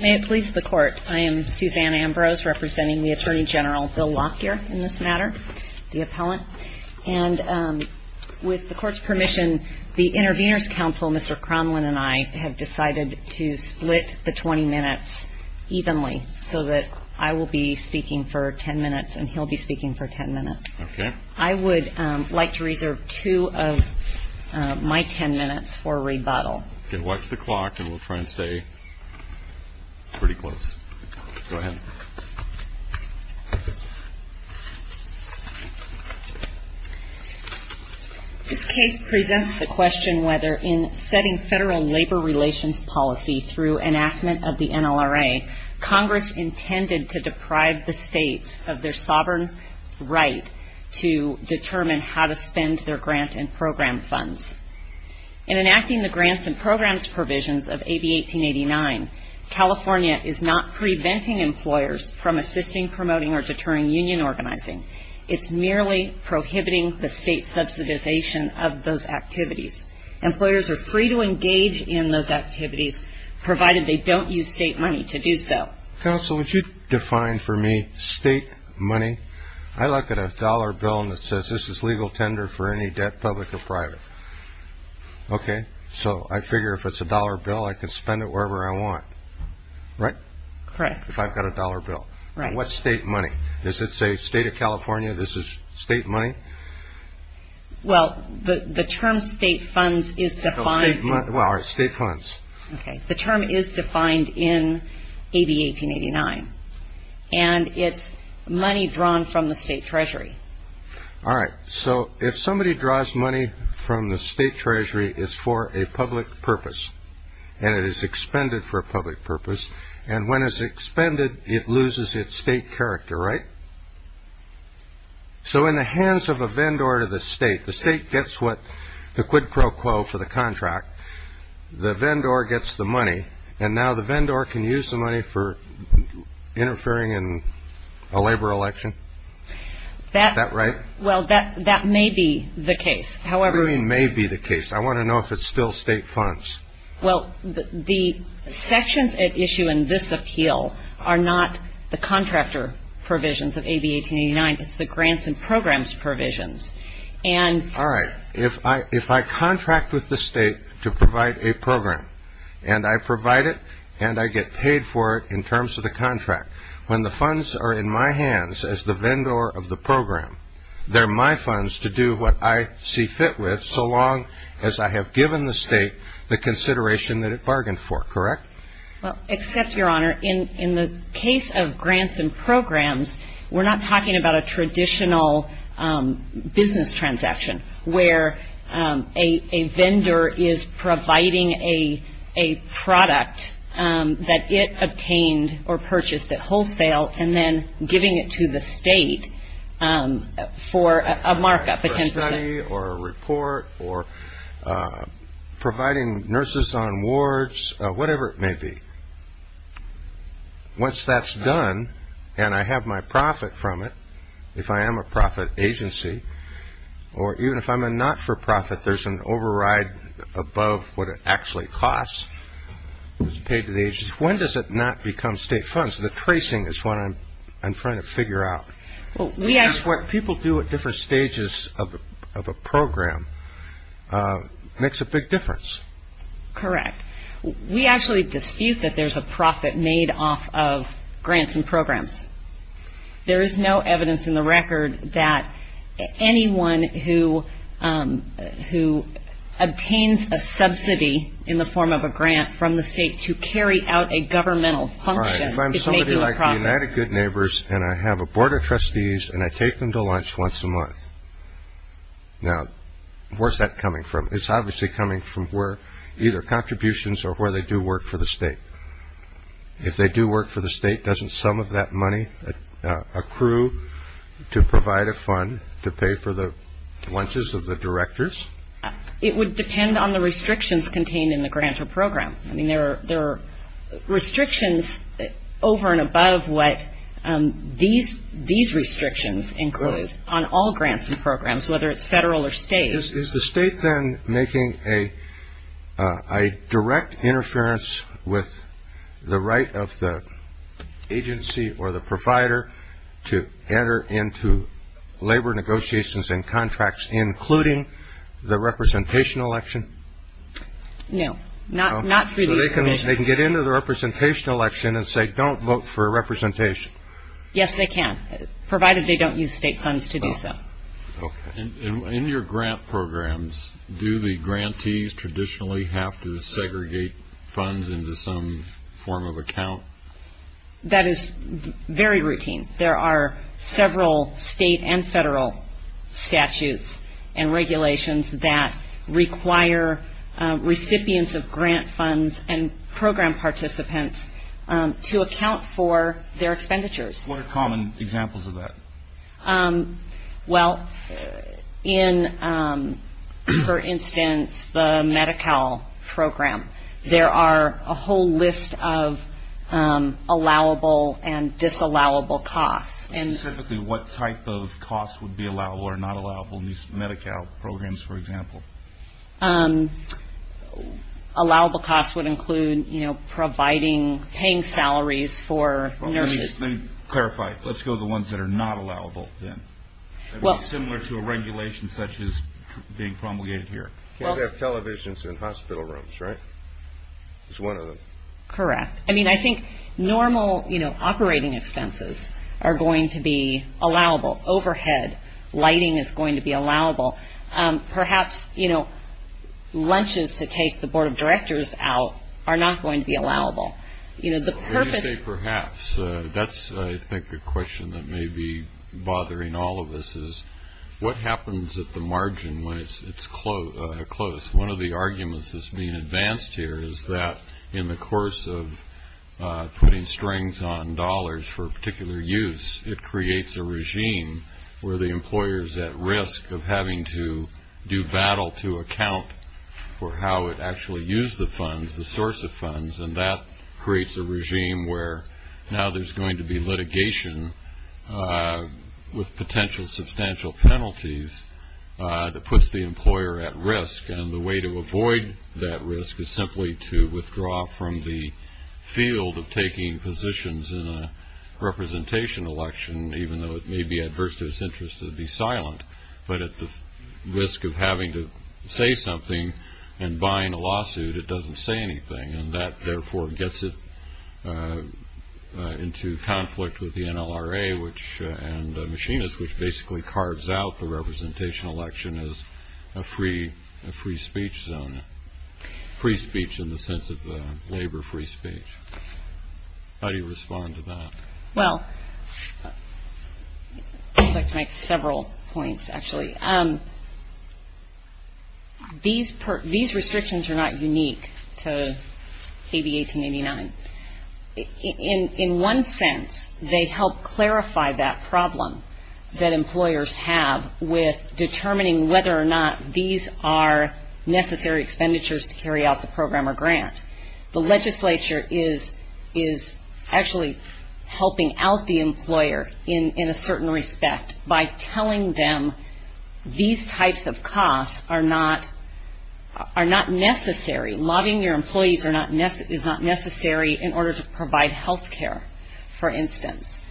May it please the Court, I am Suzanne Ambrose representing the Attorney General Bill Lockyer in this matter, the appellant. And with the Court's permission, the Intervenors' Council, Mr. Cromlin and I have decided to split the 20 minutes evenly so that I will be speaking for 10 minutes and he'll be speaking for 10 minutes. Okay. I would like to reserve two of my 10 minutes for rebuttal. You can watch the clock and we'll try and stay pretty close. Go ahead. This case presents the question whether in setting federal labor relations policy through enactment of the NLRA, Congress intended to deprive the states of their sovereign right to determine how to spend their grant and program funds. In enacting the grants and programs provisions of AB 1889, California is not preventing employers from assisting, promoting, or deterring union organizing. It's merely prohibiting the state's subsidization of those activities. Employers are free to engage in those activities, provided they don't use state money to do so. Counsel, would you define for me state money? I look at a dollar bill and it says this is legal tender for any debt, public or private. Okay. So I figure if it's a dollar bill, I can spend it wherever I want. Right? Correct. If I've got a dollar bill. Right. What's state money? Does it say state of California, this is state money? Well, the term state funds is defined. State funds. Okay. The term is defined in AB 1889. And it's money drawn from the state treasury. All right. So if somebody draws money from the state treasury, it's for a public purpose. And it is expended for a public purpose. And when it's expended, it loses its state character. Right? So in the hands of a vendor to the state, the state gets what the quid pro quo for the contract. The vendor gets the money. And now the vendor can use the money for interfering in a labor election. Is that right? Well, that may be the case. It really may be the case. I want to know if it's still state funds. Well, the sections at issue in this appeal are not the contractor provisions of AB 1889. It's the grants and programs provisions. All right. If I contract with the state to provide a program, and I provide it, and I get paid for it in terms of the contract, when the funds are in my hands as the vendor of the program, they're my funds to do what I see fit with so long as I have given the state the consideration that it bargained for. Correct? Well, except, Your Honor, in the case of grants and programs, we're not talking about a traditional business transaction where a vendor is providing a product that it obtained or purchased at wholesale and then giving it to the state for a markup, a 10 percent. For a study or a report or providing nurses on wards, whatever it may be. Once that's done and I have my profit from it, if I am a profit agency, or even if I'm a not-for-profit, there's an override above what it actually costs. It's paid to the agency. When does it not become state funds? The tracing is what I'm trying to figure out. Well, we ask what people do at different stages of a program makes a big difference. Correct. We actually dispute that there's a profit made off of grants and programs. There is no evidence in the record that anyone who obtains a subsidy in the form of a grant from the state to carry out a governmental function is making a profit. All right, if I'm somebody like the United Good Neighbors and I have a board of trustees and I take them to lunch once a month. Now, where's that coming from? It's obviously coming from either contributions or where they do work for the state. If they do work for the state, doesn't some of that money accrue to provide a fund to pay for the lunches of the directors? It would depend on the restrictions contained in the grant or program. I mean, there are restrictions over and above what these restrictions include on all grants and programs, whether it's federal or state. Is the state then making a direct interference with the right of the agency or the provider to enter into labor negotiations and contracts, including the representation election? No, not not really. They can get into the representation election and say, don't vote for representation. Yes, they can, provided they don't use state funds to do so. Okay. In your grant programs, do the grantees traditionally have to segregate funds into some form of account? That is very routine. There are several state and federal statutes and regulations that require recipients of grant funds and program participants to account for their expenditures. What are common examples of that? Well, in, for instance, the Medi-Cal program, there are a whole list of allowable and disallowable costs. Specifically, what type of costs would be allowable or not allowable in these Medi-Cal programs, for example? Allowable costs would include, you know, providing, paying salaries for nurses. Let me clarify. Let's go to the ones that are not allowable then. That would be similar to a regulation such as being promulgated here. Well, they have televisions in hospital rooms, right? That's one of them. Correct. I mean, I think normal, you know, operating expenses are going to be allowable. Overhead lighting is going to be allowable. Perhaps, you know, lunches to take the board of directors out are not going to be allowable. Perhaps. That's, I think, a question that may be bothering all of us is what happens at the margin when it's close? One of the arguments that's being advanced here is that in the course of putting strings on dollars for particular use, it creates a regime where the employer is at risk of having to do battle to account for how it actually used the funds, the source of funds, and that creates a regime where now there's going to be litigation with potential substantial penalties that puts the employer at risk, and the way to avoid that risk is simply to withdraw from the field of taking positions in a representation election, even though it may be adverse to its interest to be silent. But at the risk of having to say something and buying a lawsuit, it doesn't say anything, and that, therefore, gets it into conflict with the NLRA and machinists, which basically carves out the representation election as a free speech zone, free speech in the sense of labor free speech. How do you respond to that? Well, I'd like to make several points, actually. These restrictions are not unique to AB 1889. In one sense, they help clarify that problem that employers have with determining whether or not these are necessary expenditures to carry out the program or grant. The legislature is actually helping out the employer in a certain respect by telling them these types of costs are not necessary. Lobbying your employees is not necessary in order to provide health care, for instance.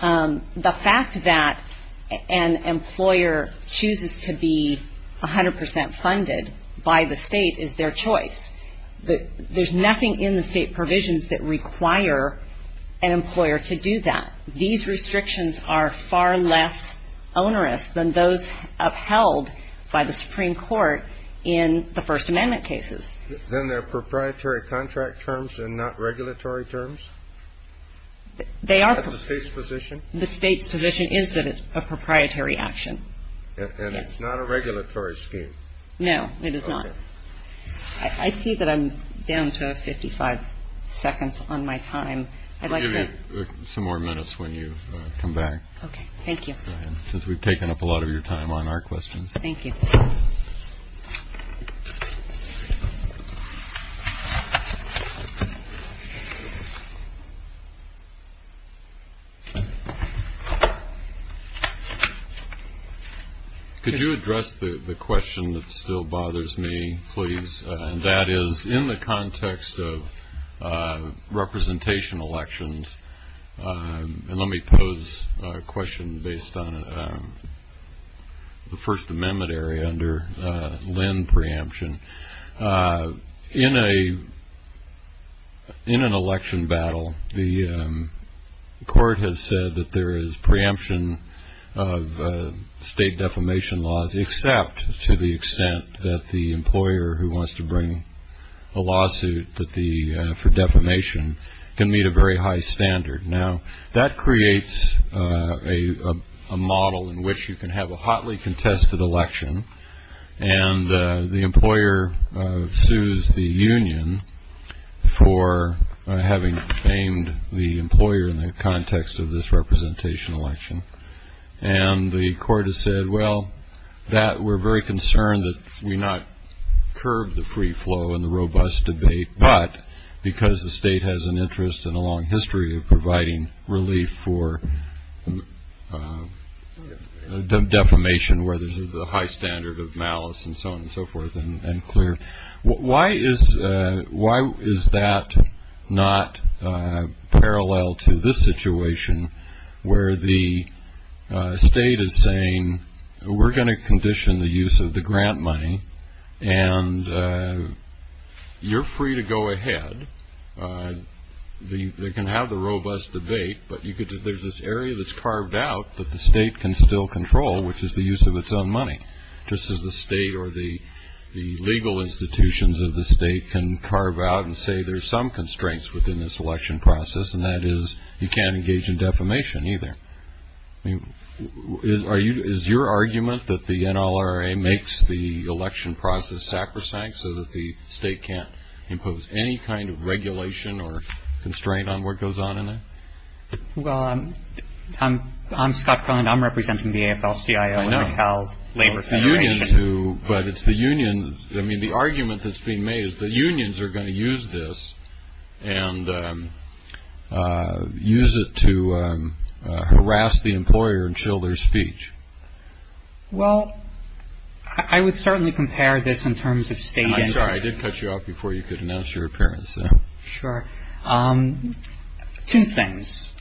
The fact that an employer chooses to be 100% funded by the state is their choice. There's nothing in the state provisions that require an employer to do that. These restrictions are far less onerous than those upheld by the Supreme Court in the First Amendment cases. Then they're proprietary contract terms and not regulatory terms? They are. Is that the state's position? The state's position is that it's a proprietary action. And it's not a regulatory scheme? No, it is not. I see that I'm down to 55 seconds on my time. We'll give you some more minutes when you come back. Okay, thank you. Since we've taken up a lot of your time on our questions. Thank you. Thank you. Could you address the question that still bothers me, please? And that is in the context of representation elections. And let me pose a question based on the First Amendment area under Lynn preemption. In an election battle, the court has said that there is preemption of state defamation laws, except to the extent that the employer who wants to bring a lawsuit for defamation can meet a very high standard. Now, that creates a model in which you can have a hotly contested election, and the employer sues the union for having defamed the employer in the context of this representation election. And the court has said, well, that we're very concerned that we not curb the free flow and the robust debate, but because the state has an interest and a long history of providing relief for defamation, where there's a high standard of malice and so on and so forth and clear. Why is that not parallel to this situation where the state is saying, we're going to condition the use of the grant money, and you're free to go ahead. They can have the robust debate, but there's this area that's carved out that the state can still control, which is the use of its own money, just as the state or the legal institutions of the state can carve out and say, there's some constraints within this election process, and that is you can't engage in defamation either. Is your argument that the NLRA makes the election process sacrosanct so that the state can't impose any kind of regulation or constraint on what goes on in it? Well, I'm Scott Cohen. I'm representing the AFL-CIO in the Cal Labor Federation. But it's the union. I mean, the argument that's being made is the unions are going to use this and use it to harass the employer and show their speech. Well, I would certainly compare this in terms of state. Sorry, I did cut you off before you could announce your appearance. Sure. Two things.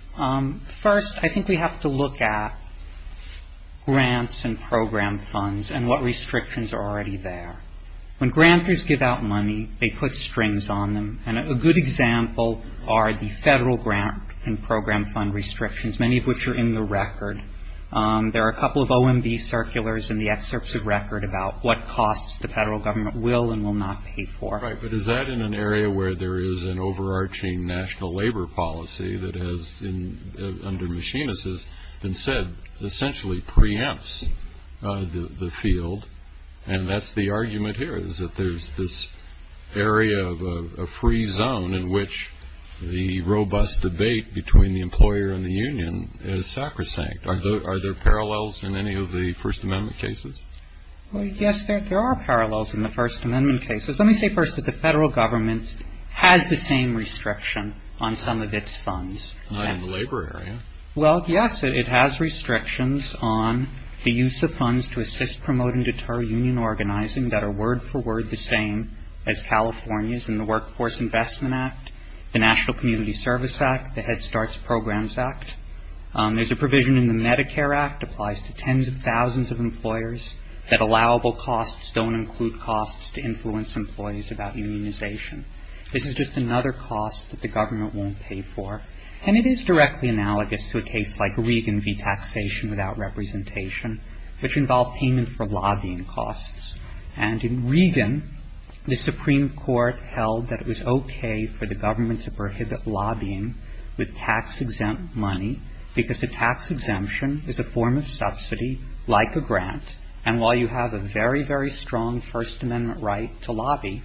First, I think we have to look at grants and program funds and what restrictions are already there. When grantors give out money, they put strings on them, and a good example are the federal grant and program fund restrictions, many of which are in the record. There are a couple of OMB circulars in the excerpts of record about what costs the federal government will and will not pay for. All right, but is that in an area where there is an overarching national labor policy that has, under machinists, has been said essentially preempts the field? And that's the argument here is that there's this area of a free zone in which the robust debate between the employer and the union is sacrosanct. Are there parallels in any of the First Amendment cases? Yes, there are parallels in the First Amendment cases. Let me say first that the federal government has the same restriction on some of its funds. Not in the labor area. Well, yes, it has restrictions on the use of funds to assist, promote, and deter union organizing that are word for word the same as California's in the Workforce Investment Act, the National Community Service Act, the Head Starts Programs Act. There's a provision in the Medicare Act applies to tens of thousands of employers that allowable costs don't include costs to influence employees about unionization. This is just another cost that the government won't pay for. And it is directly analogous to a case like Regan v. Taxation Without Representation, which involved payment for lobbying costs. And in Regan, the Supreme Court held that it was okay for the government to prohibit lobbying with tax-exempt money because a tax exemption is a form of subsidy like a grant. And while you have a very, very strong First Amendment right to lobby,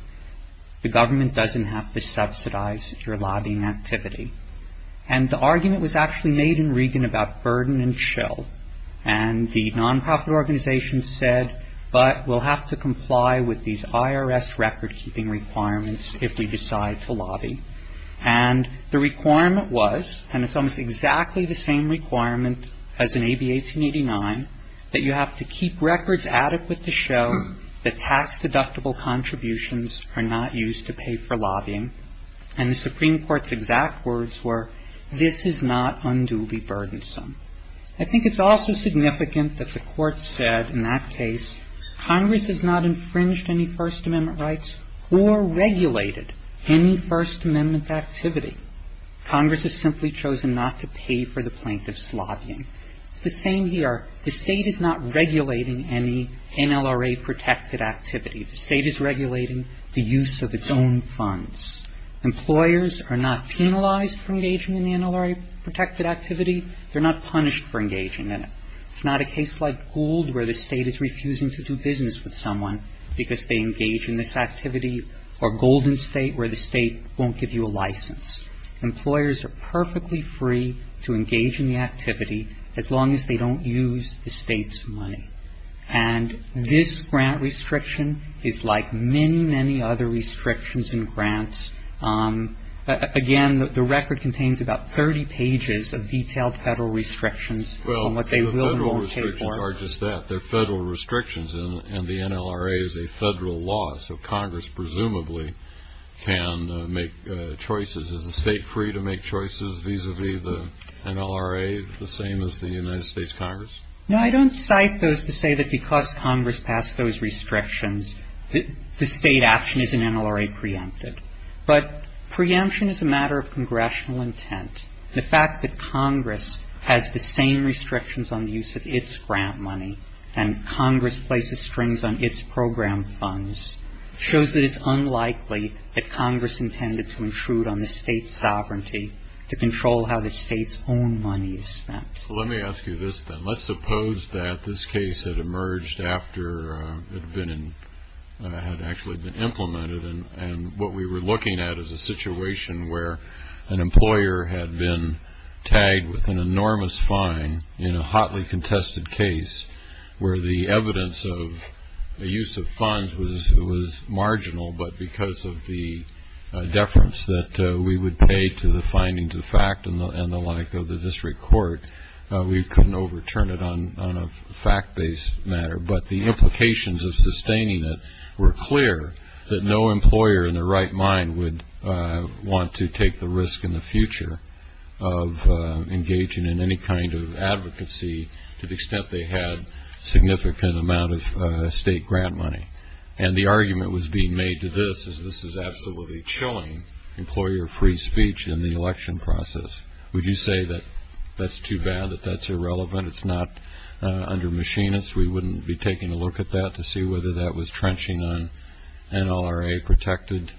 the government doesn't have to subsidize your lobbying activity. And the argument was actually made in Regan about burden and chill. And the nonprofit organization said, but we'll have to comply with these IRS record-keeping requirements if we decide to lobby. And the requirement was, and it's almost exactly the same requirement as in AB 1889, that you have to keep records adequate to show that tax-deductible contributions are not used to pay for lobbying. And the Supreme Court's exact words were, this is not unduly burdensome. I think it's also significant that the Court said in that case, Congress has not infringed any First Amendment rights or regulated any First Amendment activity. Congress has simply chosen not to pay for the plaintiff's lobbying. It's the same here. The State is not regulating any NLRA-protected activity. The State is regulating the use of its own funds. Employers are not penalized for engaging in NLRA-protected activity. They're not punished for engaging in it. It's not a case like Gould where the State is refusing to do business with someone because they engage in this activity, or Golden State where the State won't give you a license. Employers are perfectly free to engage in the activity as long as they don't use the State's money. And this grant restriction is like many, many other restrictions and grants. Again, the record contains about 30 pages of detailed Federal restrictions on what they will and won't pay for. Well, the Federal restrictions are just that. They're Federal restrictions, and the NLRA is a Federal law, so Congress presumably can make choices. Is the State free to make choices vis-a-vis the NLRA, the same as the United States Congress? No, I don't cite those to say that because Congress passed those restrictions, the State action is in NLRA preempted. But preemption is a matter of congressional intent. The fact that Congress has the same restrictions on the use of its grant money and Congress places strings on its program funds shows that it's unlikely that Congress intended to intrude on the State's sovereignty to control how the State's own money is spent. Well, let me ask you this then. Let's suppose that this case had emerged after it had actually been implemented and what we were looking at is a situation where an employer had been tagged with an enormous fine in a hotly contested case where the evidence of the use of funds was marginal, but because of the deference that we would pay to the findings of fact and the like of the district court, we couldn't overturn it on a fact-based matter, but the implications of sustaining it were clear that no employer in their right mind would want to take the risk in the future of engaging in any kind of advocacy to the extent they had significant amount of State grant money. And the argument was being made to this, is this is absolutely chilling employer-free speech in the election process. Would you say that that's too bad, that that's irrelevant, it's not under machinists, we wouldn't be taking a look at that to see whether that was trenching on NLRA-protected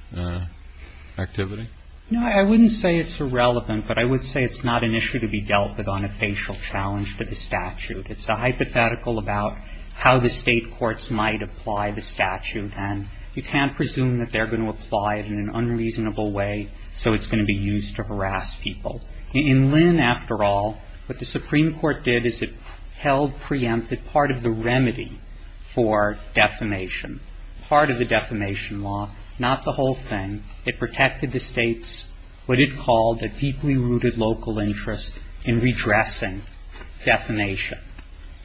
activity? No, I wouldn't say it's irrelevant, but I would say it's not an issue to be dealt with on a facial challenge to the statute. It's a hypothetical about how the State courts might apply the statute and you can't presume that they're going to apply it in an unreasonable way so it's going to be used to harass people. In Lynn, after all, what the Supreme Court did is it held preemptive part of the remedy for defamation, part of the defamation law, not the whole thing. It protected the State's what it called a deeply rooted local interest in redressing defamation.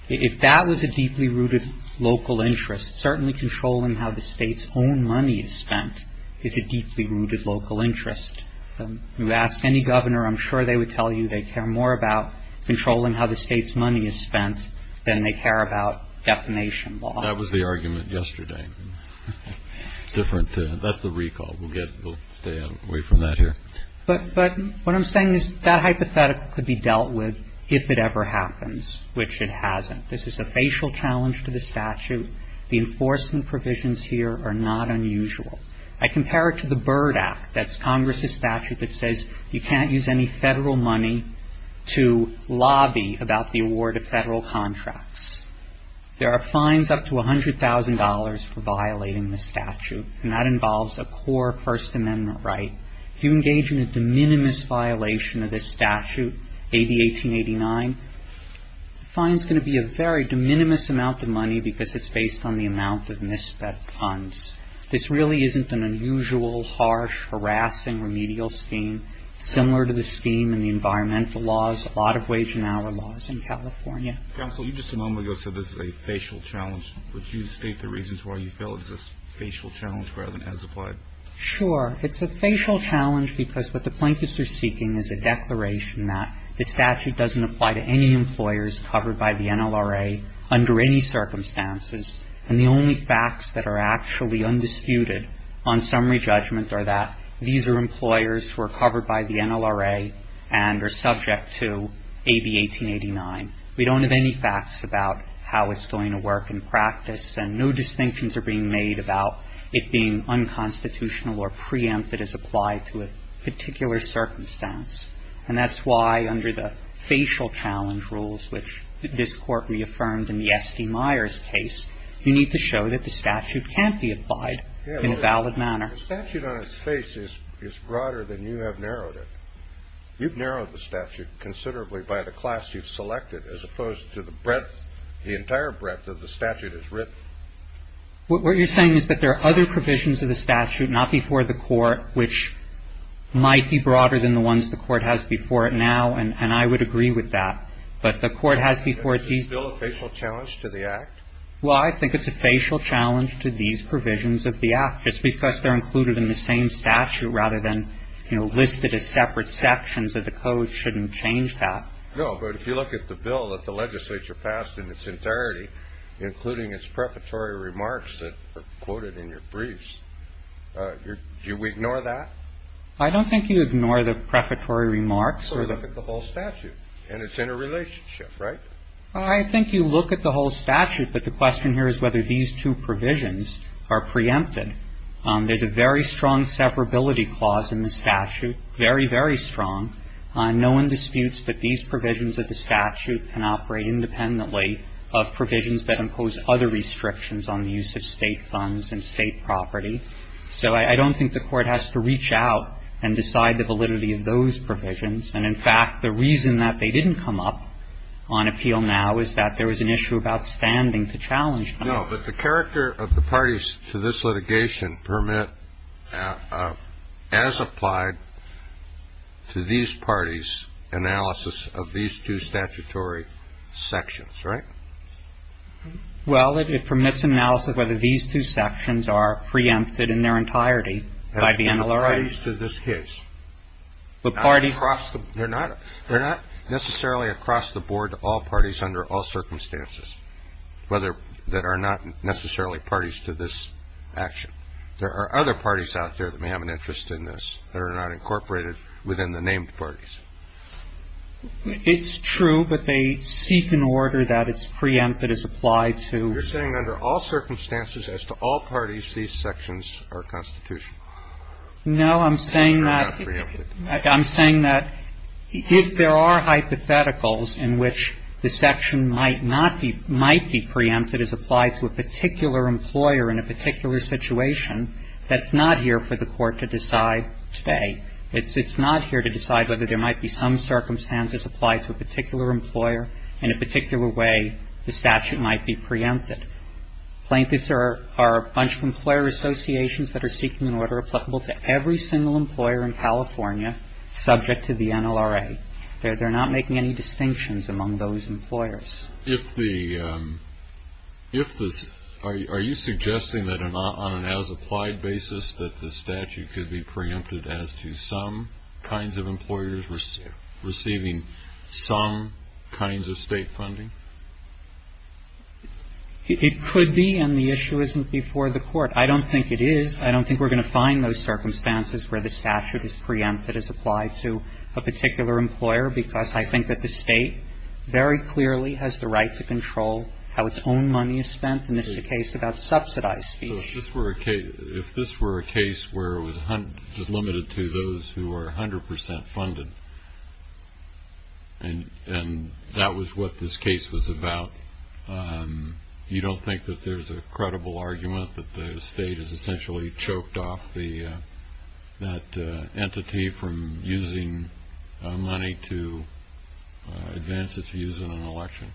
If that was a deeply rooted local interest, certainly controlling how the State's own money is spent is a deeply rooted local interest. You ask any governor, I'm sure they would tell you they care more about controlling how the State's money is spent than they care about defamation law. That was the argument yesterday. Different, that's the recall, we'll get, we'll stay away from that here. But what I'm saying is that hypothetical could be dealt with if it ever happens, which it hasn't. This is a facial challenge to the statute. The enforcement provisions here are not unusual. I compare it to the Byrd Act. That's Congress's statute that says you can't use any Federal money to lobby about the award of Federal contracts. There are fines up to $100,000 for violating the statute and that involves a core First Amendment right. If you engage in a de minimis violation of this statute, AB 1889, the fine's going to be a very de minimis amount of money because it's based on the amount of misspent funds. This really isn't an unusual, harsh, harassing, remedial scheme. Similar to the scheme in the environmental laws, a lot of wage and hour laws in California. Counsel, you just a moment ago said this is a facial challenge. Would you state the reasons why you feel it's a facial challenge rather than as applied? Sure. It's a facial challenge because what the Plaintiffs are seeking is a declaration that the statute doesn't apply to any employers covered by the NLRA under any circumstances, and the only facts that are actually undisputed on summary judgment are that these are employers who are covered by the NLRA and are subject to AB 1889. We don't have any facts about how it's going to work in practice, and no distinctions are being made about it being unconstitutional or preempted as applied to a particular circumstance. And that's why under the facial challenge rules, which this Court reaffirmed in the S.D. Myers case, you need to show that the statute can't be applied in a valid manner. The statute on its face is broader than you have narrowed it. You've narrowed the statute considerably by the class you've selected as opposed to the breadth, the entire breadth of the statute is written. What you're saying is that there are other provisions of the statute not before the Court which might be broader than the ones the Court has before it now, and I would agree with that. But the Court has before it these. Is this bill a facial challenge to the Act? Well, I think it's a facial challenge to these provisions of the Act. Just because they're included in the same statute rather than, you know, listed as separate sections of the Code shouldn't change that. No, but if you look at the bill that the legislature passed in its entirety, including its prefatory remarks that are quoted in your briefs, do we ignore that? I don't think you ignore the prefatory remarks. Well, look at the whole statute and its interrelationship, right? I think you look at the whole statute, but the question here is whether these two provisions are preempted. There's a very strong severability clause in the statute, very, very strong. No one disputes that these provisions of the statute can operate independently of provisions that impose other restrictions on the use of State funds and State property. So I don't think the Court has to reach out and decide the validity of those provisions. And, in fact, the reason that they didn't come up on appeal now is that there was an issue of outstanding to challenge them. No, but the character of the parties to this litigation permit, as applied to these parties, analysis of these two statutory sections, right? Well, it permits an analysis whether these two sections are preempted in their entirety by the NLRA. As to the parties to this case. The parties. They're not necessarily across the board to all parties under all circumstances, whether that are not necessarily parties to this action. There are other parties out there that may have an interest in this that are not incorporated within the named parties. It's true, but they seek an order that it's preempted as applied to. You're saying under all circumstances as to all parties, these sections are constitutional? No, I'm saying that. I'm saying that if there are hypotheticals in which the section might not be preempted, might be preempted as applied to a particular employer in a particular situation, that's not here for the court to decide today. It's not here to decide whether there might be some circumstances applied to a particular employer in a particular way the statute might be preempted. Plaintiffs are a bunch of employer associations that are seeking an order applicable to every single employer in California subject to the NLRA. They're not making any distinctions among those employers. If the – if the – are you suggesting that on an as-applied basis that the statute could be preempted as to some kinds of employers receiving some kinds of State funding? It could be, and the issue isn't before the court. I don't think it is. I don't think we're going to find those circumstances where the statute is preempted as applied to a particular employer because I think that the State very clearly has the right to control how its own money is spent, and this is a case about subsidized fees. So if this were a case where it was limited to those who are 100 percent funded and that was what this case was about, you don't think that there's a credible argument that the State has essentially choked off the – that entity from using money to advance its views in an election?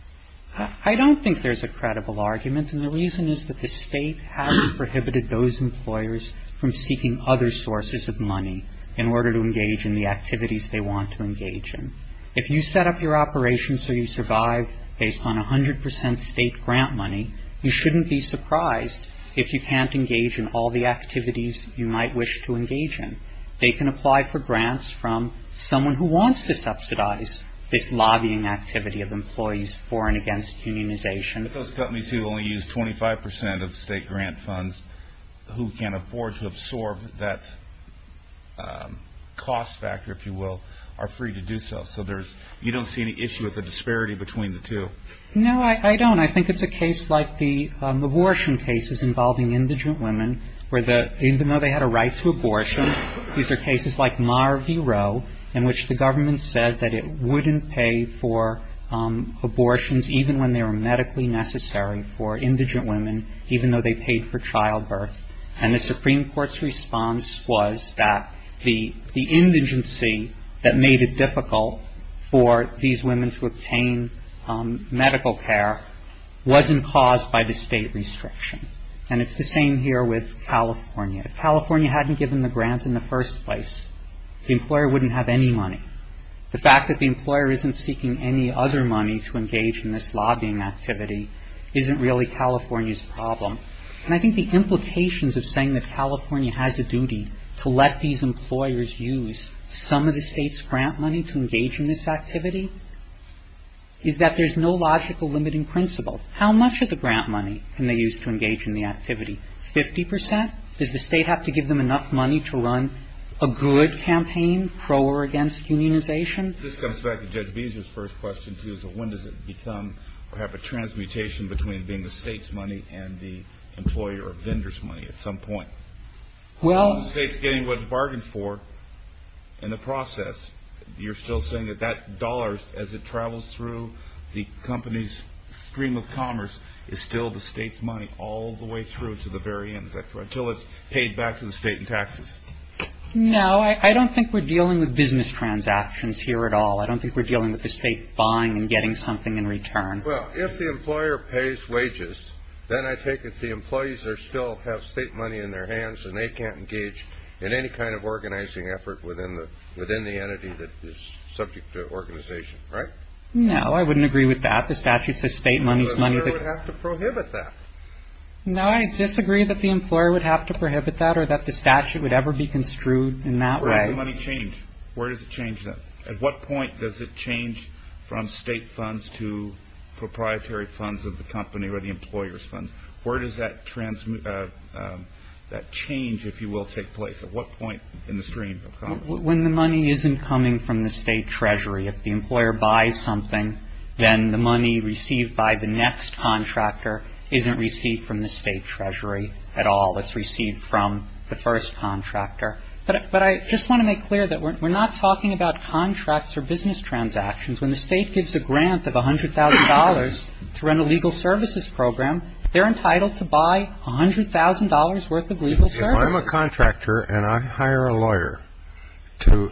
I don't think there's a credible argument, and the reason is that the State hasn't prohibited those employers from seeking other sources of money in order to engage in the activities they want to engage in. If you set up your operation so you survive based on 100 percent State grant money, you shouldn't be surprised if you can't engage in all the activities you might wish to engage in. They can apply for grants from someone who wants to subsidize this lobbying activity of employees for and against unionization. But those companies who only use 25 percent of State grant funds, who can't afford to absorb that cost factor, if you will, are free to do so. So there's – you don't see any issue with the disparity between the two? No, I don't. And I think it's a case like the abortion cases involving indigent women, where the – even though they had a right to abortion, these are cases like Mar-V-Roe in which the government said that it wouldn't pay for abortions even when they were medically necessary for indigent women, even though they paid for childbirth. And the Supreme Court's response was that the indigency that made it difficult for these women to obtain medical care wasn't caused by the State restriction. And it's the same here with California. If California hadn't given the grants in the first place, the employer wouldn't have any money. The fact that the employer isn't seeking any other money to engage in this lobbying activity isn't really California's problem. And I think the implications of saying that California has a duty to let these employers use some of the State's grant money to engage in this activity is that there's no logical limiting principle. How much of the grant money can they use to engage in the activity? Fifty percent? Does the State have to give them enough money to run a good campaign, pro or against unionization? This comes back to Judge Beezer's first question, too, is that when does it become perhaps a transmutation between being the State's money and the employer or vendor's money at some point? While the State's getting what it's bargained for in the process, you're still saying that that dollar, as it travels through the company's stream of commerce, is still the State's money all the way through to the very end, until it's paid back to the State in taxes? No, I don't think we're dealing with business transactions here at all. I don't think we're dealing with the State buying and getting something in return. Well, if the employer pays wages, then I take it the employees still have State money in their hands and they can't engage in any kind of organizing effort within the entity that is subject to organization, right? No, I wouldn't agree with that. The statute says State money's money. The employer would have to prohibit that. No, I disagree that the employer would have to prohibit that or that the statute would ever be construed in that way. Where does the money change? Where does it change then? At what point does it change from State funds to proprietary funds of the company or the employer's funds? Where does that change, if you will, take place? At what point in the stream of commerce? When the money isn't coming from the State treasury. If the employer buys something, then the money received by the next contractor isn't received from the State treasury at all. It's received from the first contractor. But I just want to make clear that we're not talking about contracts or business transactions. When the State gives a grant of $100,000 to run a legal services program, they're entitled to buy $100,000 worth of legal services. If I'm a contractor and I hire a lawyer to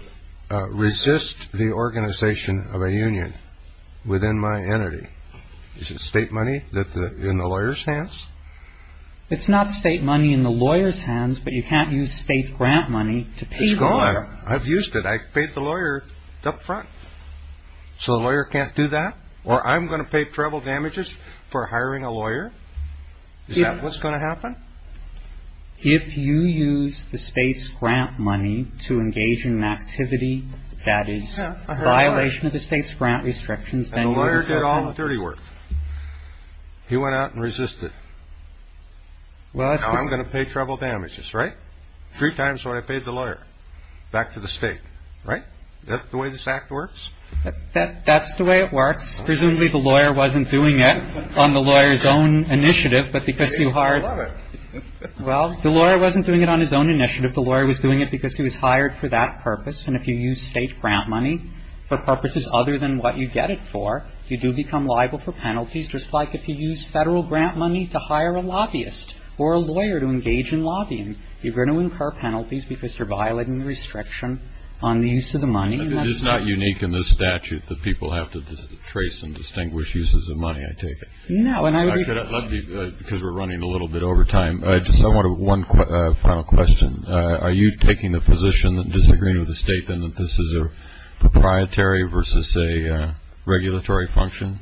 resist the organization of a union within my entity, is it State money in the lawyer's hands? It's not State money in the lawyer's hands, but you can't use State grant money to pay the lawyer. No, I've used it. I've paid the lawyer up front. So the lawyer can't do that? Or I'm going to pay treble damages for hiring a lawyer? Is that what's going to happen? If you use the State's grant money to engage in an activity that is a violation of the State's grant restrictions, then you're- And the lawyer did all the dirty work. He went out and resisted. Now I'm going to pay treble damages, right? Three times what I paid the lawyer back to the State, right? Is that the way this act works? That's the way it works. Presumably the lawyer wasn't doing it on the lawyer's own initiative, but because you hired- I love it. Well, the lawyer wasn't doing it on his own initiative. The lawyer was doing it because he was hired for that purpose. And if you use State grant money for purposes other than what you get it for, you do become liable for penalties, just like if you use Federal grant money to hire a lobbyist or a lawyer to engage in lobbying. You're going to incur penalties because you're violating the restriction on the use of the money. It's not unique in this statute that people have to trace and distinguish uses of money, I take it. No, and I would- Because we're running a little bit over time. I just want one final question. Are you taking the position, disagreeing with the State, that this is a proprietary versus a regulatory function?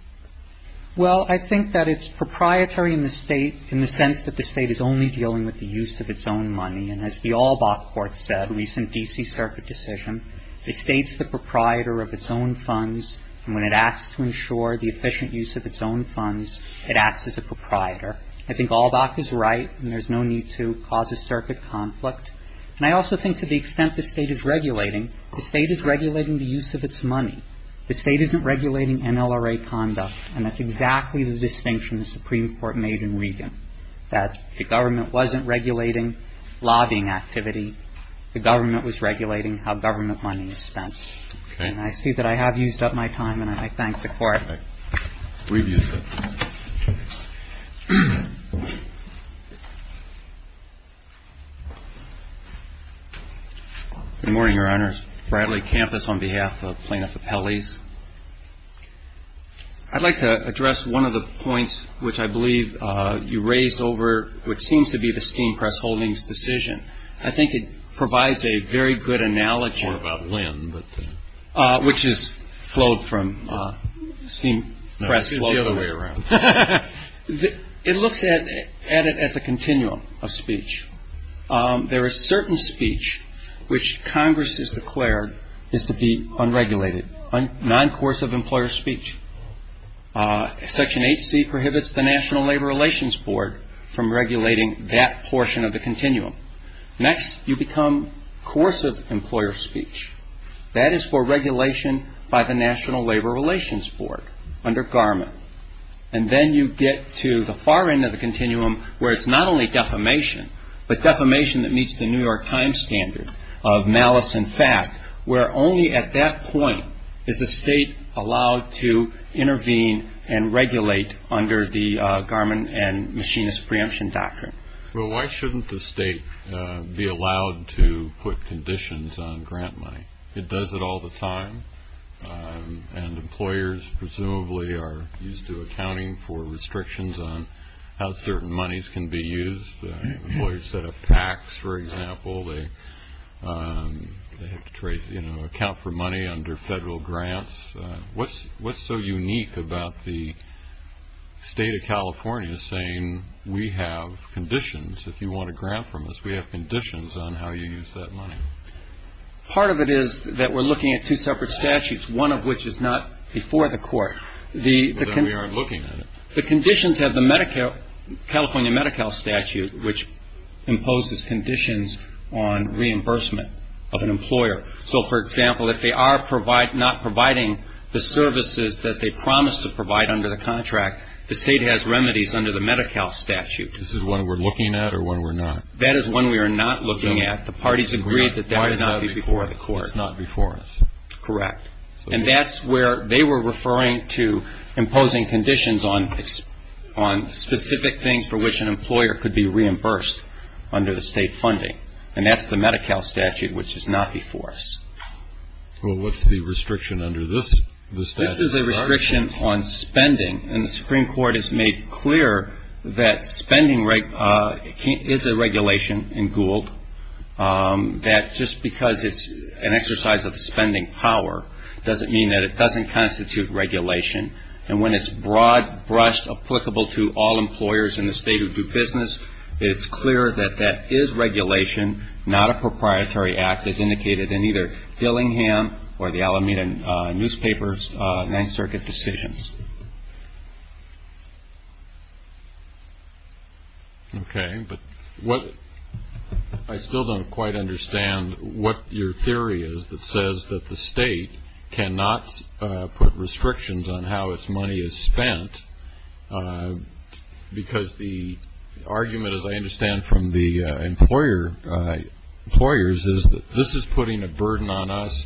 Well, I think that it's proprietary in the State, in the sense that the State is only dealing with the use of its own money. And as the Allbach Court said, a recent D.C. Circuit decision, the State's the proprietor of its own funds, and when it asks to ensure the efficient use of its own funds, it acts as a proprietor. I think Allbach is right, and there's no need to cause a circuit conflict. And I also think to the extent the State is regulating, the State is regulating the use of its money. The State isn't regulating NLRA conduct, and that's exactly the distinction the Supreme Court made in Regan. That the government wasn't regulating lobbying activity. The government was regulating how government money is spent. Okay. And I see that I have used up my time, and I thank the Court. We've used it. Good morning, Your Honors. Bradley Campus on behalf of Plaintiff Appellees. I'd like to address one of the points which I believe you raised over what seems to be the Steam Press Holdings decision. I think it provides a very good analogy. It's more about Lynn. Which has flowed from Steam Press. No, it's flowed the other way around. It looks at it as a continuum of speech. There is certain speech which Congress has declared is to be unregulated. Non-coercive employer speech. Section 8C prohibits the National Labor Relations Board from regulating that portion of the continuum. Next, you become coercive employer speech. That is for regulation by the National Labor Relations Board under Garmin. And then you get to the far end of the continuum where it's not only defamation, but defamation that meets the New York Times standard of malice and fact, where only at that point is the state allowed to intervene and regulate under the Garmin and Machinist preemption doctrine. Well, why shouldn't the state be allowed to put conditions on grant money? It does it all the time. And employers presumably are used to accounting for restrictions on how certain monies can be used. Employers set up PACs, for example. They have to account for money under federal grants. What's so unique about the state of California saying we have conditions? If you want a grant from us, we have conditions on how you use that money. Part of it is that we're looking at two separate statutes, one of which is not before the court. The conditions have the California Medi-Cal statute, which imposes conditions on reimbursement of an employer. So, for example, if they are not providing the services that they promised to provide under the contract, the state has remedies under the Medi-Cal statute. This is one we're looking at or one we're not? That is one we are not looking at. The parties agreed that that would not be before the court. It's not before us. Correct. And that's where they were referring to imposing conditions on specific things for which an employer could be reimbursed under the state funding. And that's the Medi-Cal statute, which is not before us. Well, what's the restriction under this statute? This is a restriction on spending. And the Supreme Court has made clear that spending is a regulation in Gould, that just because it's an exercise of spending power doesn't mean that it doesn't constitute regulation. And when it's broad-brushed applicable to all employers in the state who do business, it's clear that that is regulation, not a proprietary act, as indicated in either Dillingham or the Alameda newspapers' Ninth Circuit decisions. Okay. But I still don't quite understand what your theory is that says that the state cannot put restrictions on how its money is spent, because the argument, as I understand from the employers, is that this is putting a burden on us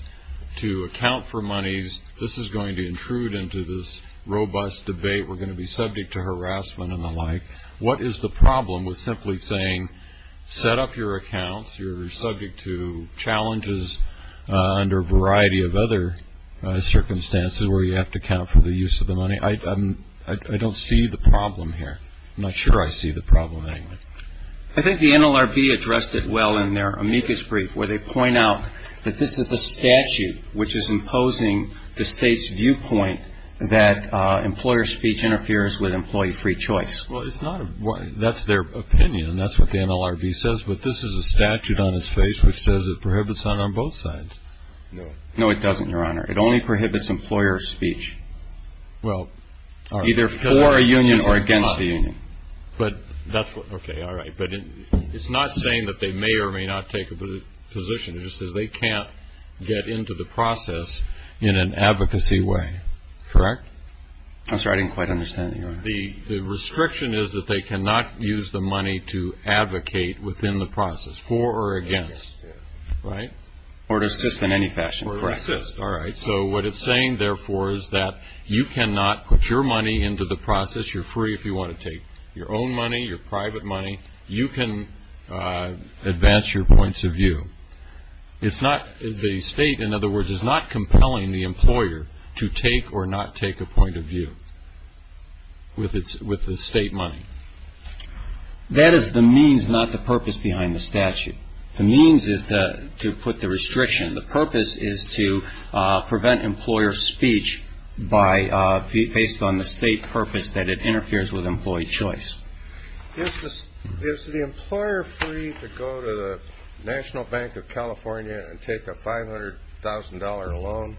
to account for monies, this is going to intrude into this robust debate, we're going to be subject to harassment and the like. What is the problem with simply saying set up your accounts, you're subject to challenges under a variety of other circumstances where you have to account for the use of the money? I don't see the problem here. I'm not sure I see the problem anyway. I think the NLRB addressed it well in their amicus brief, where they point out that this is the statute which is imposing the state's viewpoint that employer speech interferes with employee free choice. Well, that's their opinion and that's what the NLRB says, but this is a statute on its face which says it prohibits that on both sides. No, it doesn't, Your Honor. It only prohibits employer speech. Well, either for a union or against a union. Okay, all right, but it's not saying that they may or may not take a position, it just says they can't get into the process in an advocacy way, correct? I'm sorry, I didn't quite understand, Your Honor. The restriction is that they cannot use the money to advocate within the process, for or against, right? Or to assist in any fashion, correct. To assist, all right. So what it's saying, therefore, is that you cannot put your money into the process. You're free if you want to take your own money, your private money. You can advance your points of view. The state, in other words, is not compelling the employer to take or not take a point of view with the state money. That is the means, not the purpose behind the statute. The means is to put the restriction. The purpose is to prevent employer speech based on the state purpose that it interferes with employee choice. Is the employer free to go to the National Bank of California and take a $500,000 loan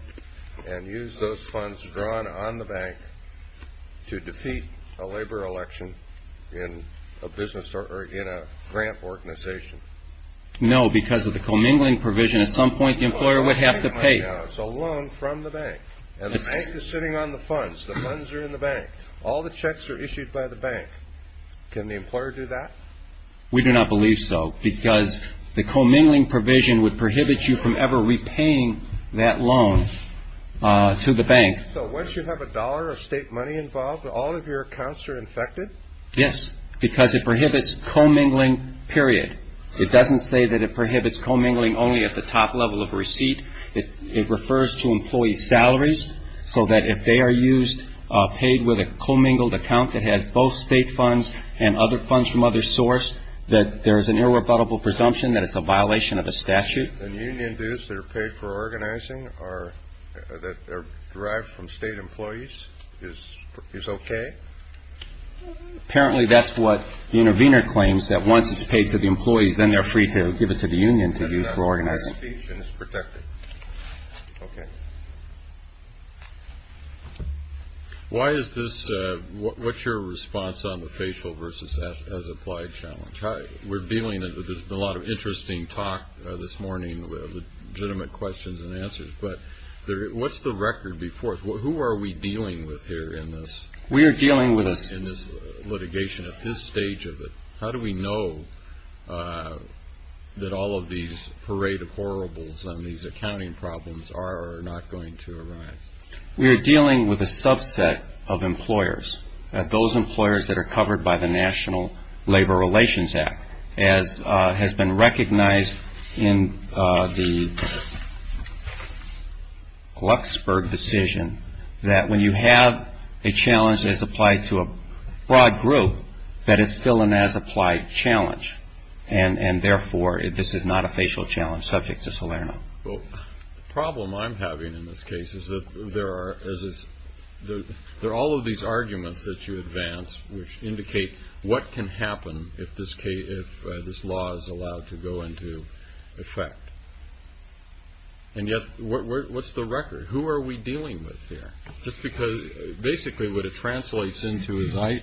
and use those funds drawn on the bank to defeat a labor election in a business or in a grant organization? No, because of the commingling provision, at some point the employer would have to pay. It's a loan from the bank. And the bank is sitting on the funds. The funds are in the bank. All the checks are issued by the bank. Can the employer do that? We do not believe so because the commingling provision would prohibit you from ever repaying that loan to the bank. So once you have a dollar of state money involved, all of your accounts are infected? Yes, because it prohibits commingling, period. It doesn't say that it prohibits commingling only at the top level of receipt. It refers to employee salaries so that if they are used, paid with a commingled account that has both state funds and other funds from other sources, that there is an irrebuttable presumption that it's a violation of a statute. And union dues that are paid for organizing are derived from state employees is okay? Apparently, that's what the intervener claims, that once it's paid to the employees, then they're free to give it to the union to use for organizing. That's speech and it's protected. Okay. Why is this? What's your response on the facial versus as applied challenge? We're dealing with a lot of interesting talk this morning with legitimate questions and answers. But what's the record before us? Who are we dealing with here in this? We are dealing with a In this litigation, at this stage of it, how do we know that all of these parade of horribles and these accounting problems are or are not going to arise? We are dealing with a subset of employers, those employers that are covered by the National Labor Relations Act, as has been recognized in the Luxburg decision, that when you have a challenge as applied to a broad group, that it's still an as applied challenge. And therefore, this is not a facial challenge subject to Salerno. Well, the problem I'm having in this case is that there are all of these arguments that you advance, which indicate what can happen if this law is allowed to go into effect. And yet, what's the record? Who are we dealing with here? Just because basically what it translates into as I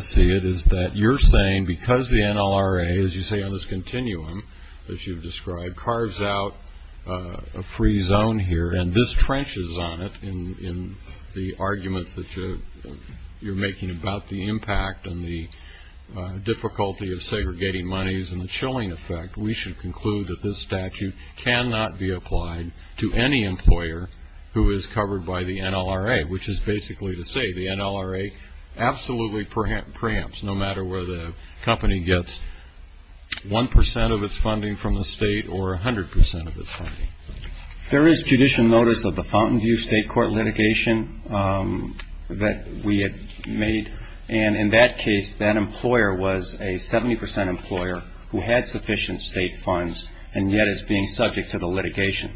see it is that you're saying because the NLRA, as you say on this continuum, as you've described, carves out a free zone here, and this trenches on it in the arguments that you're making about the impact and the difficulty of segregating monies and the chilling effect, we should conclude that this statute cannot be applied to any employer who is covered by the NLRA, which is basically to say the NLRA absolutely preempts, no matter where the company gets 1% of its funding from the state or 100% of its funding. There is judicial notice of the Fountainview State Court litigation that we had made. And in that case, that employer was a 70% employer who had sufficient state funds and yet is being subject to the litigation,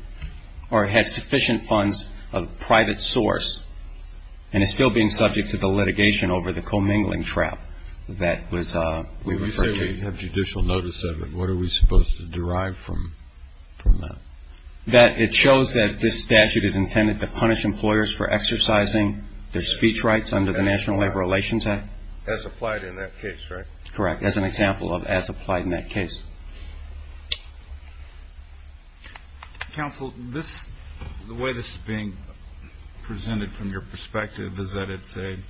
or has sufficient funds of private source and is still being subject to the litigation over the commingling trap that was referred to. If we have judicial notice of it, what are we supposed to derive from that? That it shows that this statute is intended to punish employers for exercising their speech rights under the National Labor Relations Act. As applied in that case, right? Correct, as an example of as applied in that case. Counsel, the way this is being presented from your perspective is that it's an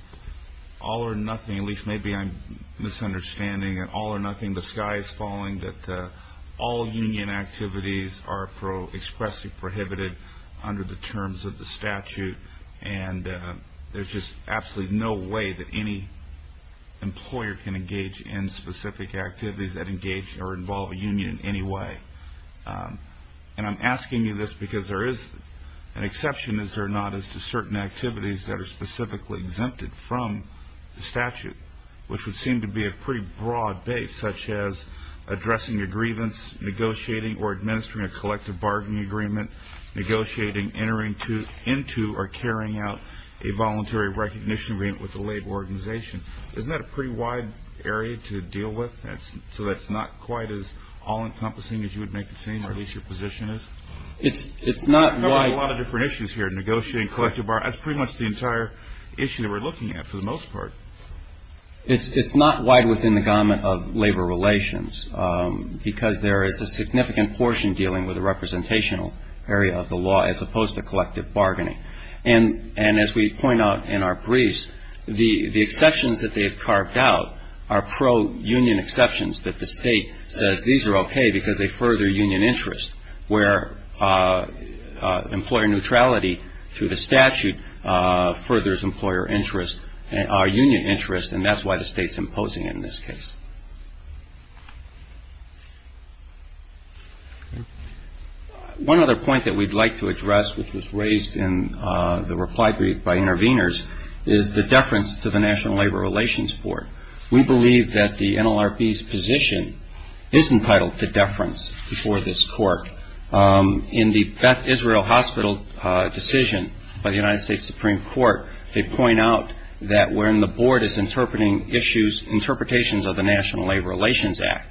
all or nothing, at least maybe I'm misunderstanding it, all or nothing, the sky is falling, that all union activities are expressly prohibited under the terms of the statute. And there's just absolutely no way that any employer can engage in specific activities that engage or involve a union in any way. And I'm asking you this because there is an exception, is there not, as to certain activities that are specifically exempted from the statute, which would seem to be a pretty broad base, such as addressing a grievance, negotiating or administering a collective bargaining agreement, negotiating entering into or carrying out a voluntary recognition agreement with a labor organization. Isn't that a pretty wide area to deal with? So that's not quite as all-encompassing as you would make it seem, or at least your position is? It's not wide. We're covering a lot of different issues here, negotiating, collective bargaining. That's pretty much the entire issue that we're looking at for the most part. It's not wide within the garment of labor relations because there is a significant portion dealing with the representational area of the law as opposed to collective bargaining. And as we point out in our briefs, the exceptions that they have carved out are pro-union exceptions that the state says these are okay because they further union interest, where employer neutrality through the statute furthers employer interest or union interest, and that's why the state's imposing it in this case. One other point that we'd like to address, which was raised in the reply brief by interveners, is the deference to the National Labor Relations Board. We believe that the NLRB's position is entitled to deference before this court. In the Beth Israel Hospital decision by the United States Supreme Court, they point out that when the board is interpreting issues, interpretations of the National Labor Relations Act,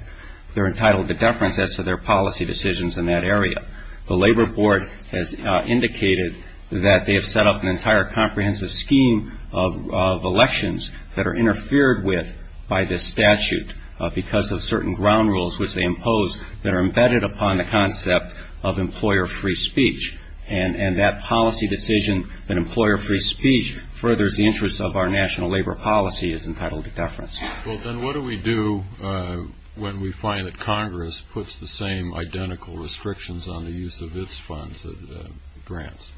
they're entitled to deference as to their policy decisions in that area. The Labor Board has indicated that they have set up an entire comprehensive scheme of elections that are interfered with by this statute because of certain ground rules which they impose that are embedded upon the concept of employer free speech, and that policy decision that employer free speech furthers the interests of our national labor policy is entitled to deference. Well, then what do we do when we find that Congress puts the same identical restrictions on the use of its funds and grants?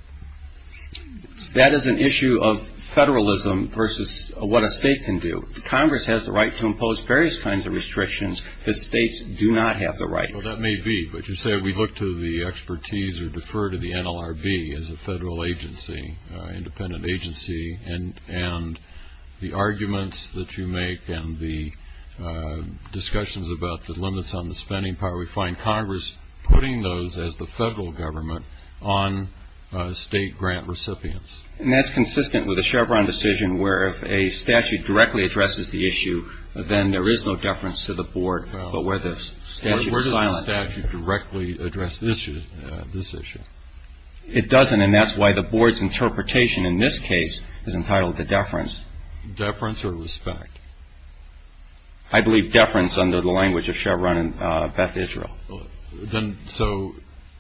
That is an issue of federalism versus what a state can do. Congress has the right to impose various kinds of restrictions that states do not have the right to. Well, that may be, but you say we look to the expertise or defer to the NLRB as a federal agency, independent agency, and the arguments that you make and the discussions about the limits on the spending power, where we find Congress putting those as the federal government on state grant recipients. And that's consistent with the Chevron decision where if a statute directly addresses the issue, then there is no deference to the board, but where the statute is silent. Well, where does the statute directly address this issue? It doesn't, and that's why the board's interpretation in this case is entitled to deference. Deference or respect? I believe deference under the language of Chevron and Beth Israel. So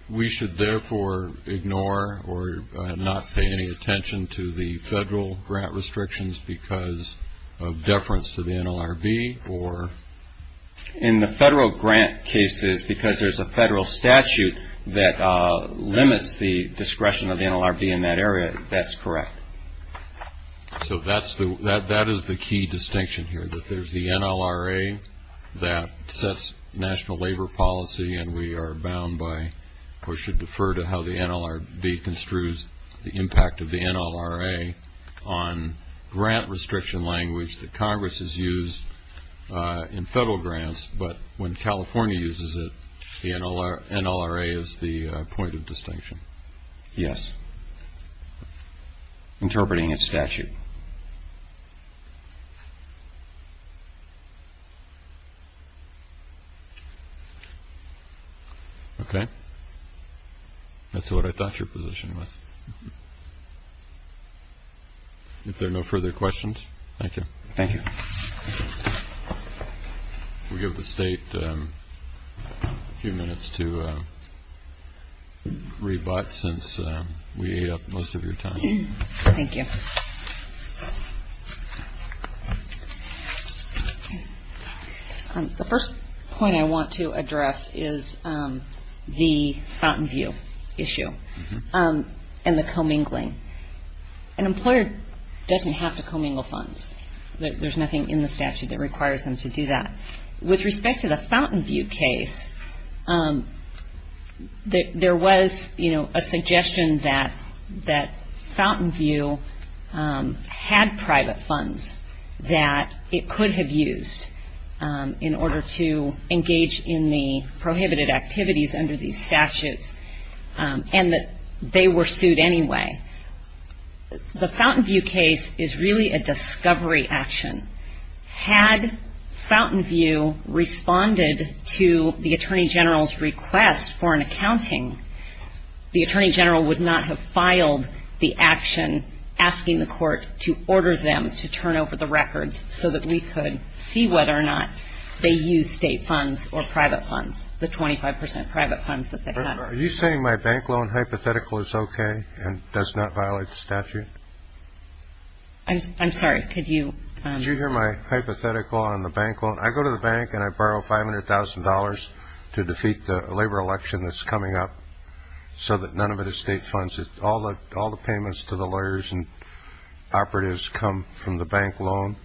we should therefore ignore or not pay any attention to the federal grant restrictions because of deference to the NLRB or? In the federal grant cases, because there's a federal statute that limits the discretion of the NLRB in that area, that's correct. So that is the key distinction here, that there's the NLRA that sets national labor policy, and we are bound by or should defer to how the NLRB construes the impact of the NLRA on grant restriction language that Congress has used in federal grants, but when California uses it, the NLRA is the point of distinction. Yes. Interpreting its statute. Okay. That's what I thought your position was. If there are no further questions, thank you. Thank you. We'll give the State a few minutes to rebut since we ate up most of your time. Thank you. The first point I want to address is the Fountainview issue and the commingling. An employer doesn't have to commingle funds. There's nothing in the statute that requires them to do that. With respect to the Fountainview case, there was a suggestion that Fountainview had private funds that it could have used in order to engage in the prohibited activities under these statutes, and that they were sued anyway. The Fountainview case is really a discovery action. Had Fountainview responded to the Attorney General's request for an accounting, the Attorney General would not have filed the action asking the court to order them to turn over the records so that we could see whether or not they used state funds or private funds, the 25 percent private funds that they had. Are you saying my bank loan hypothetical is okay and does not violate the statute? I'm sorry. Could you – Did you hear my hypothetical on the bank loan? I go to the bank and I borrow $500,000 to defeat the labor election that's coming up so that none of it is state funds. All the payments to the lawyers and operatives come from the bank loan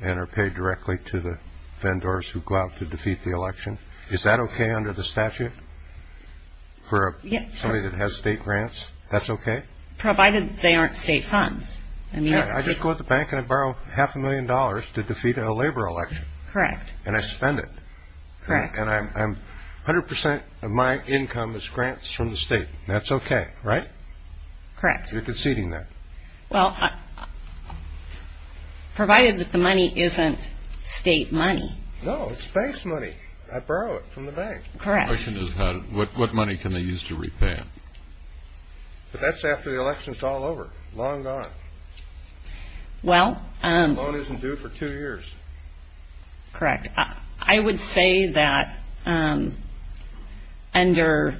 and are paid directly to the vendors who go out to defeat the election. Is that okay under the statute for somebody that has state grants? That's okay? Provided they aren't state funds. I just go to the bank and I borrow half a million dollars to defeat a labor election. Correct. And I spend it. Correct. And 100 percent of my income is grants from the state. That's okay, right? Correct. You're conceding that. Well, provided that the money isn't state money. No, it's bank money. I borrow it from the bank. Correct. The question is what money can they use to repay it? But that's after the election is all over, long gone. Well – The loan isn't due for two years. Correct. I would say that under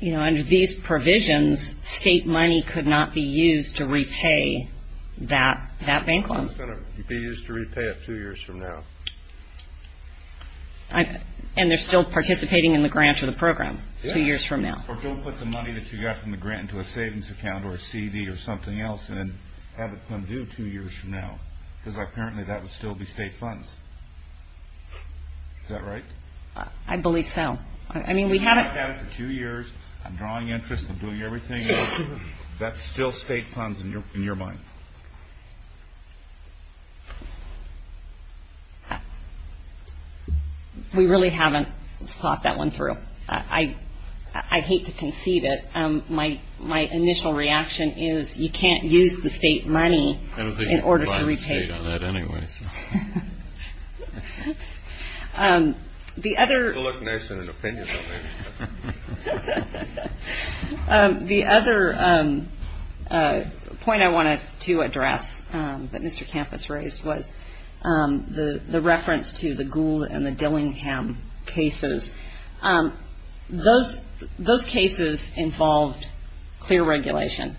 these provisions, state money could not be used to repay that bank loan. It's going to be used to repay it two years from now. And they're still participating in the grant or the program two years from now? Yes. Or don't put the money that you got from the grant into a savings account or a CD or something else and have it come due two years from now because apparently that would still be state funds. Is that right? I believe so. I mean, we haven't – I'm drawing interest in doing everything else. That's still state funds in your mind? We really haven't thought that one through. I hate to concede it. My initial reaction is you can't use the state money in order to repay it. I don't think you can rely on the state on that anyway. The other – He'll look nice in his opinion, don't he? The other point I wanted to address that Mr. Campos raised was the reference to the Gould and the Dillingham cases. Those cases involved clear regulation.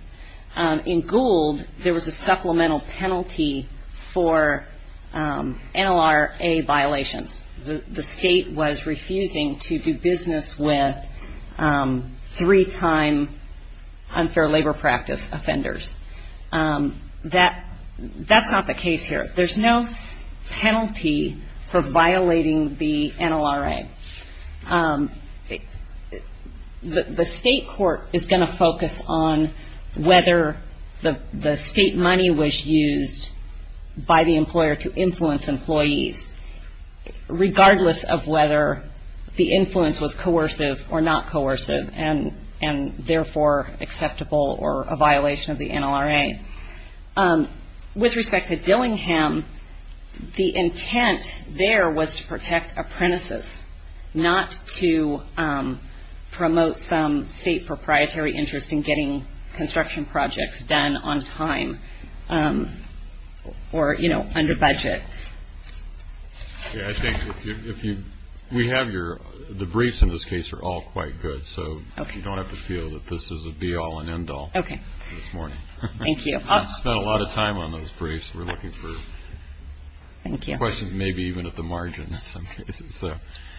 In Gould, there was a supplemental penalty for NLRA violations. The state was refusing to do business with three-time unfair labor practice offenders. That's not the case here. There's no penalty for violating the NLRA. The state court is going to focus on whether the state money was used by the employer to influence employees, regardless of whether the influence was coercive or not coercive and therefore acceptable or a violation of the NLRA. With respect to Dillingham, the intent there was to protect apprentices, not to promote some state proprietary interest in getting construction projects done on time or under budget. We have your – the briefs in this case are all quite good, so you don't have to feel that this is a be-all and end-all this morning. Thank you. We spent a lot of time on those briefs. We're looking for questions maybe even at the margin in some cases.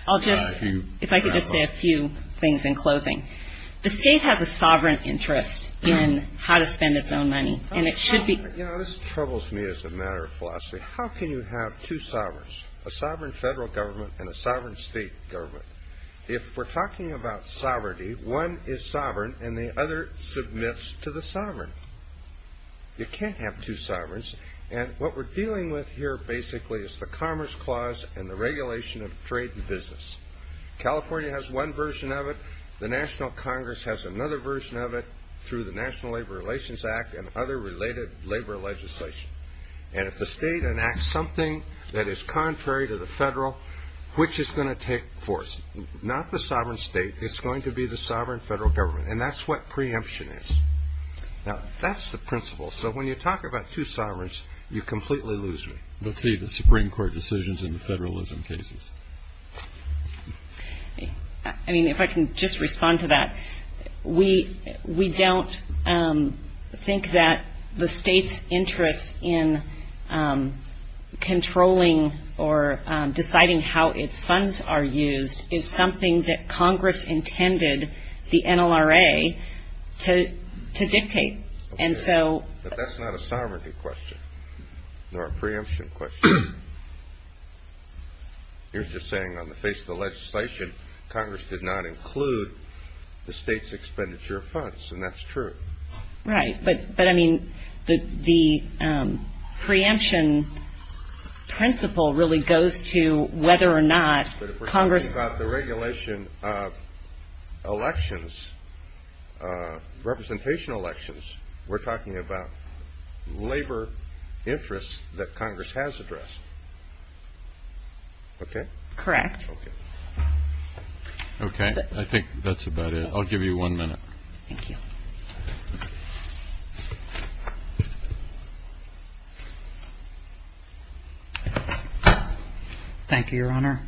I'll just – if I could just say a few things in closing. The state has a sovereign interest in how to spend its own money, and it should be – You know, this troubles me as a matter of philosophy. How can you have two sovereigns, a sovereign federal government and a sovereign state government? If we're talking about sovereignty, one is sovereign and the other submits to the sovereign. You can't have two sovereigns. And what we're dealing with here basically is the Commerce Clause and the regulation of trade and business. California has one version of it. The National Congress has another version of it through the National Labor Relations Act and other related labor legislation. And if the state enacts something that is contrary to the federal, which is going to take force? Not the sovereign state. It's going to be the sovereign federal government, and that's what preemption is. Now, that's the principle. So when you talk about two sovereigns, you completely lose me. Let's see the Supreme Court decisions in the federalism cases. I mean, if I can just respond to that. We don't think that the state's interest in controlling or deciding how its funds are used is something that Congress intended the NLRA to dictate. But that's not a sovereignty question, nor a preemption question. You're just saying on the face of the legislation, Congress did not include the state's expenditure of funds, and that's true. Right, but I mean the preemption principle really goes to whether or not Congress When we talk about the regulation of elections, representation elections, we're talking about labor interests that Congress has addressed. Okay? Correct. Okay. I think that's about it. I'll give you one minute. Thank you. Thank you, Your Honor.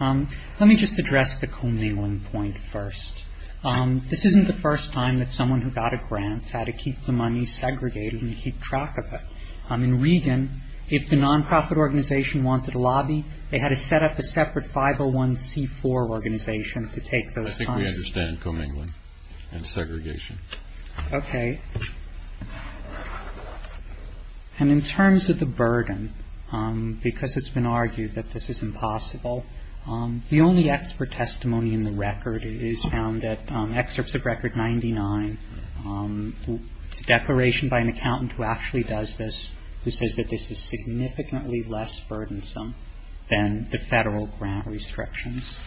Let me just address the commingling point first. This isn't the first time that someone who got a grant had to keep the money segregated and keep track of it. In Regan, if the nonprofit organization wanted a lobby, they had to set up a separate 501c4 organization to take those funds. That's how we understand commingling and segregation. Okay. And in terms of the burden, because it's been argued that this is impossible, the only expert testimony in the record is found at Excerpts of Record 99. It's a declaration by an accountant who actually does this, who says that this is significantly less burdensome than the Federal grant restrictions.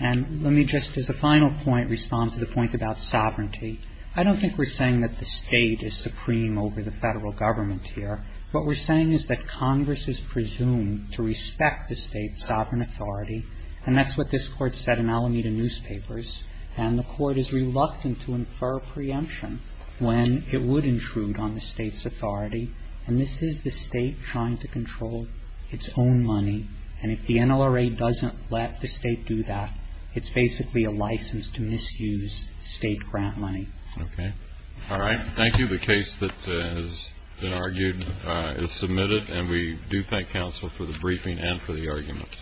And let me just, as a final point, respond to the point about sovereignty. I don't think we're saying that the State is supreme over the Federal government here. What we're saying is that Congress is presumed to respect the State's sovereign authority, and that's what this Court said in Alameda newspapers. And the Court is reluctant to infer preemption when it would intrude on the State's authority. And this is the State trying to control its own money. And if the NLRA doesn't let the State do that, it's basically a license to misuse State grant money. Okay. All right. Thank you. The case that has been argued is submitted, and we do thank counsel for the briefing and for the arguments.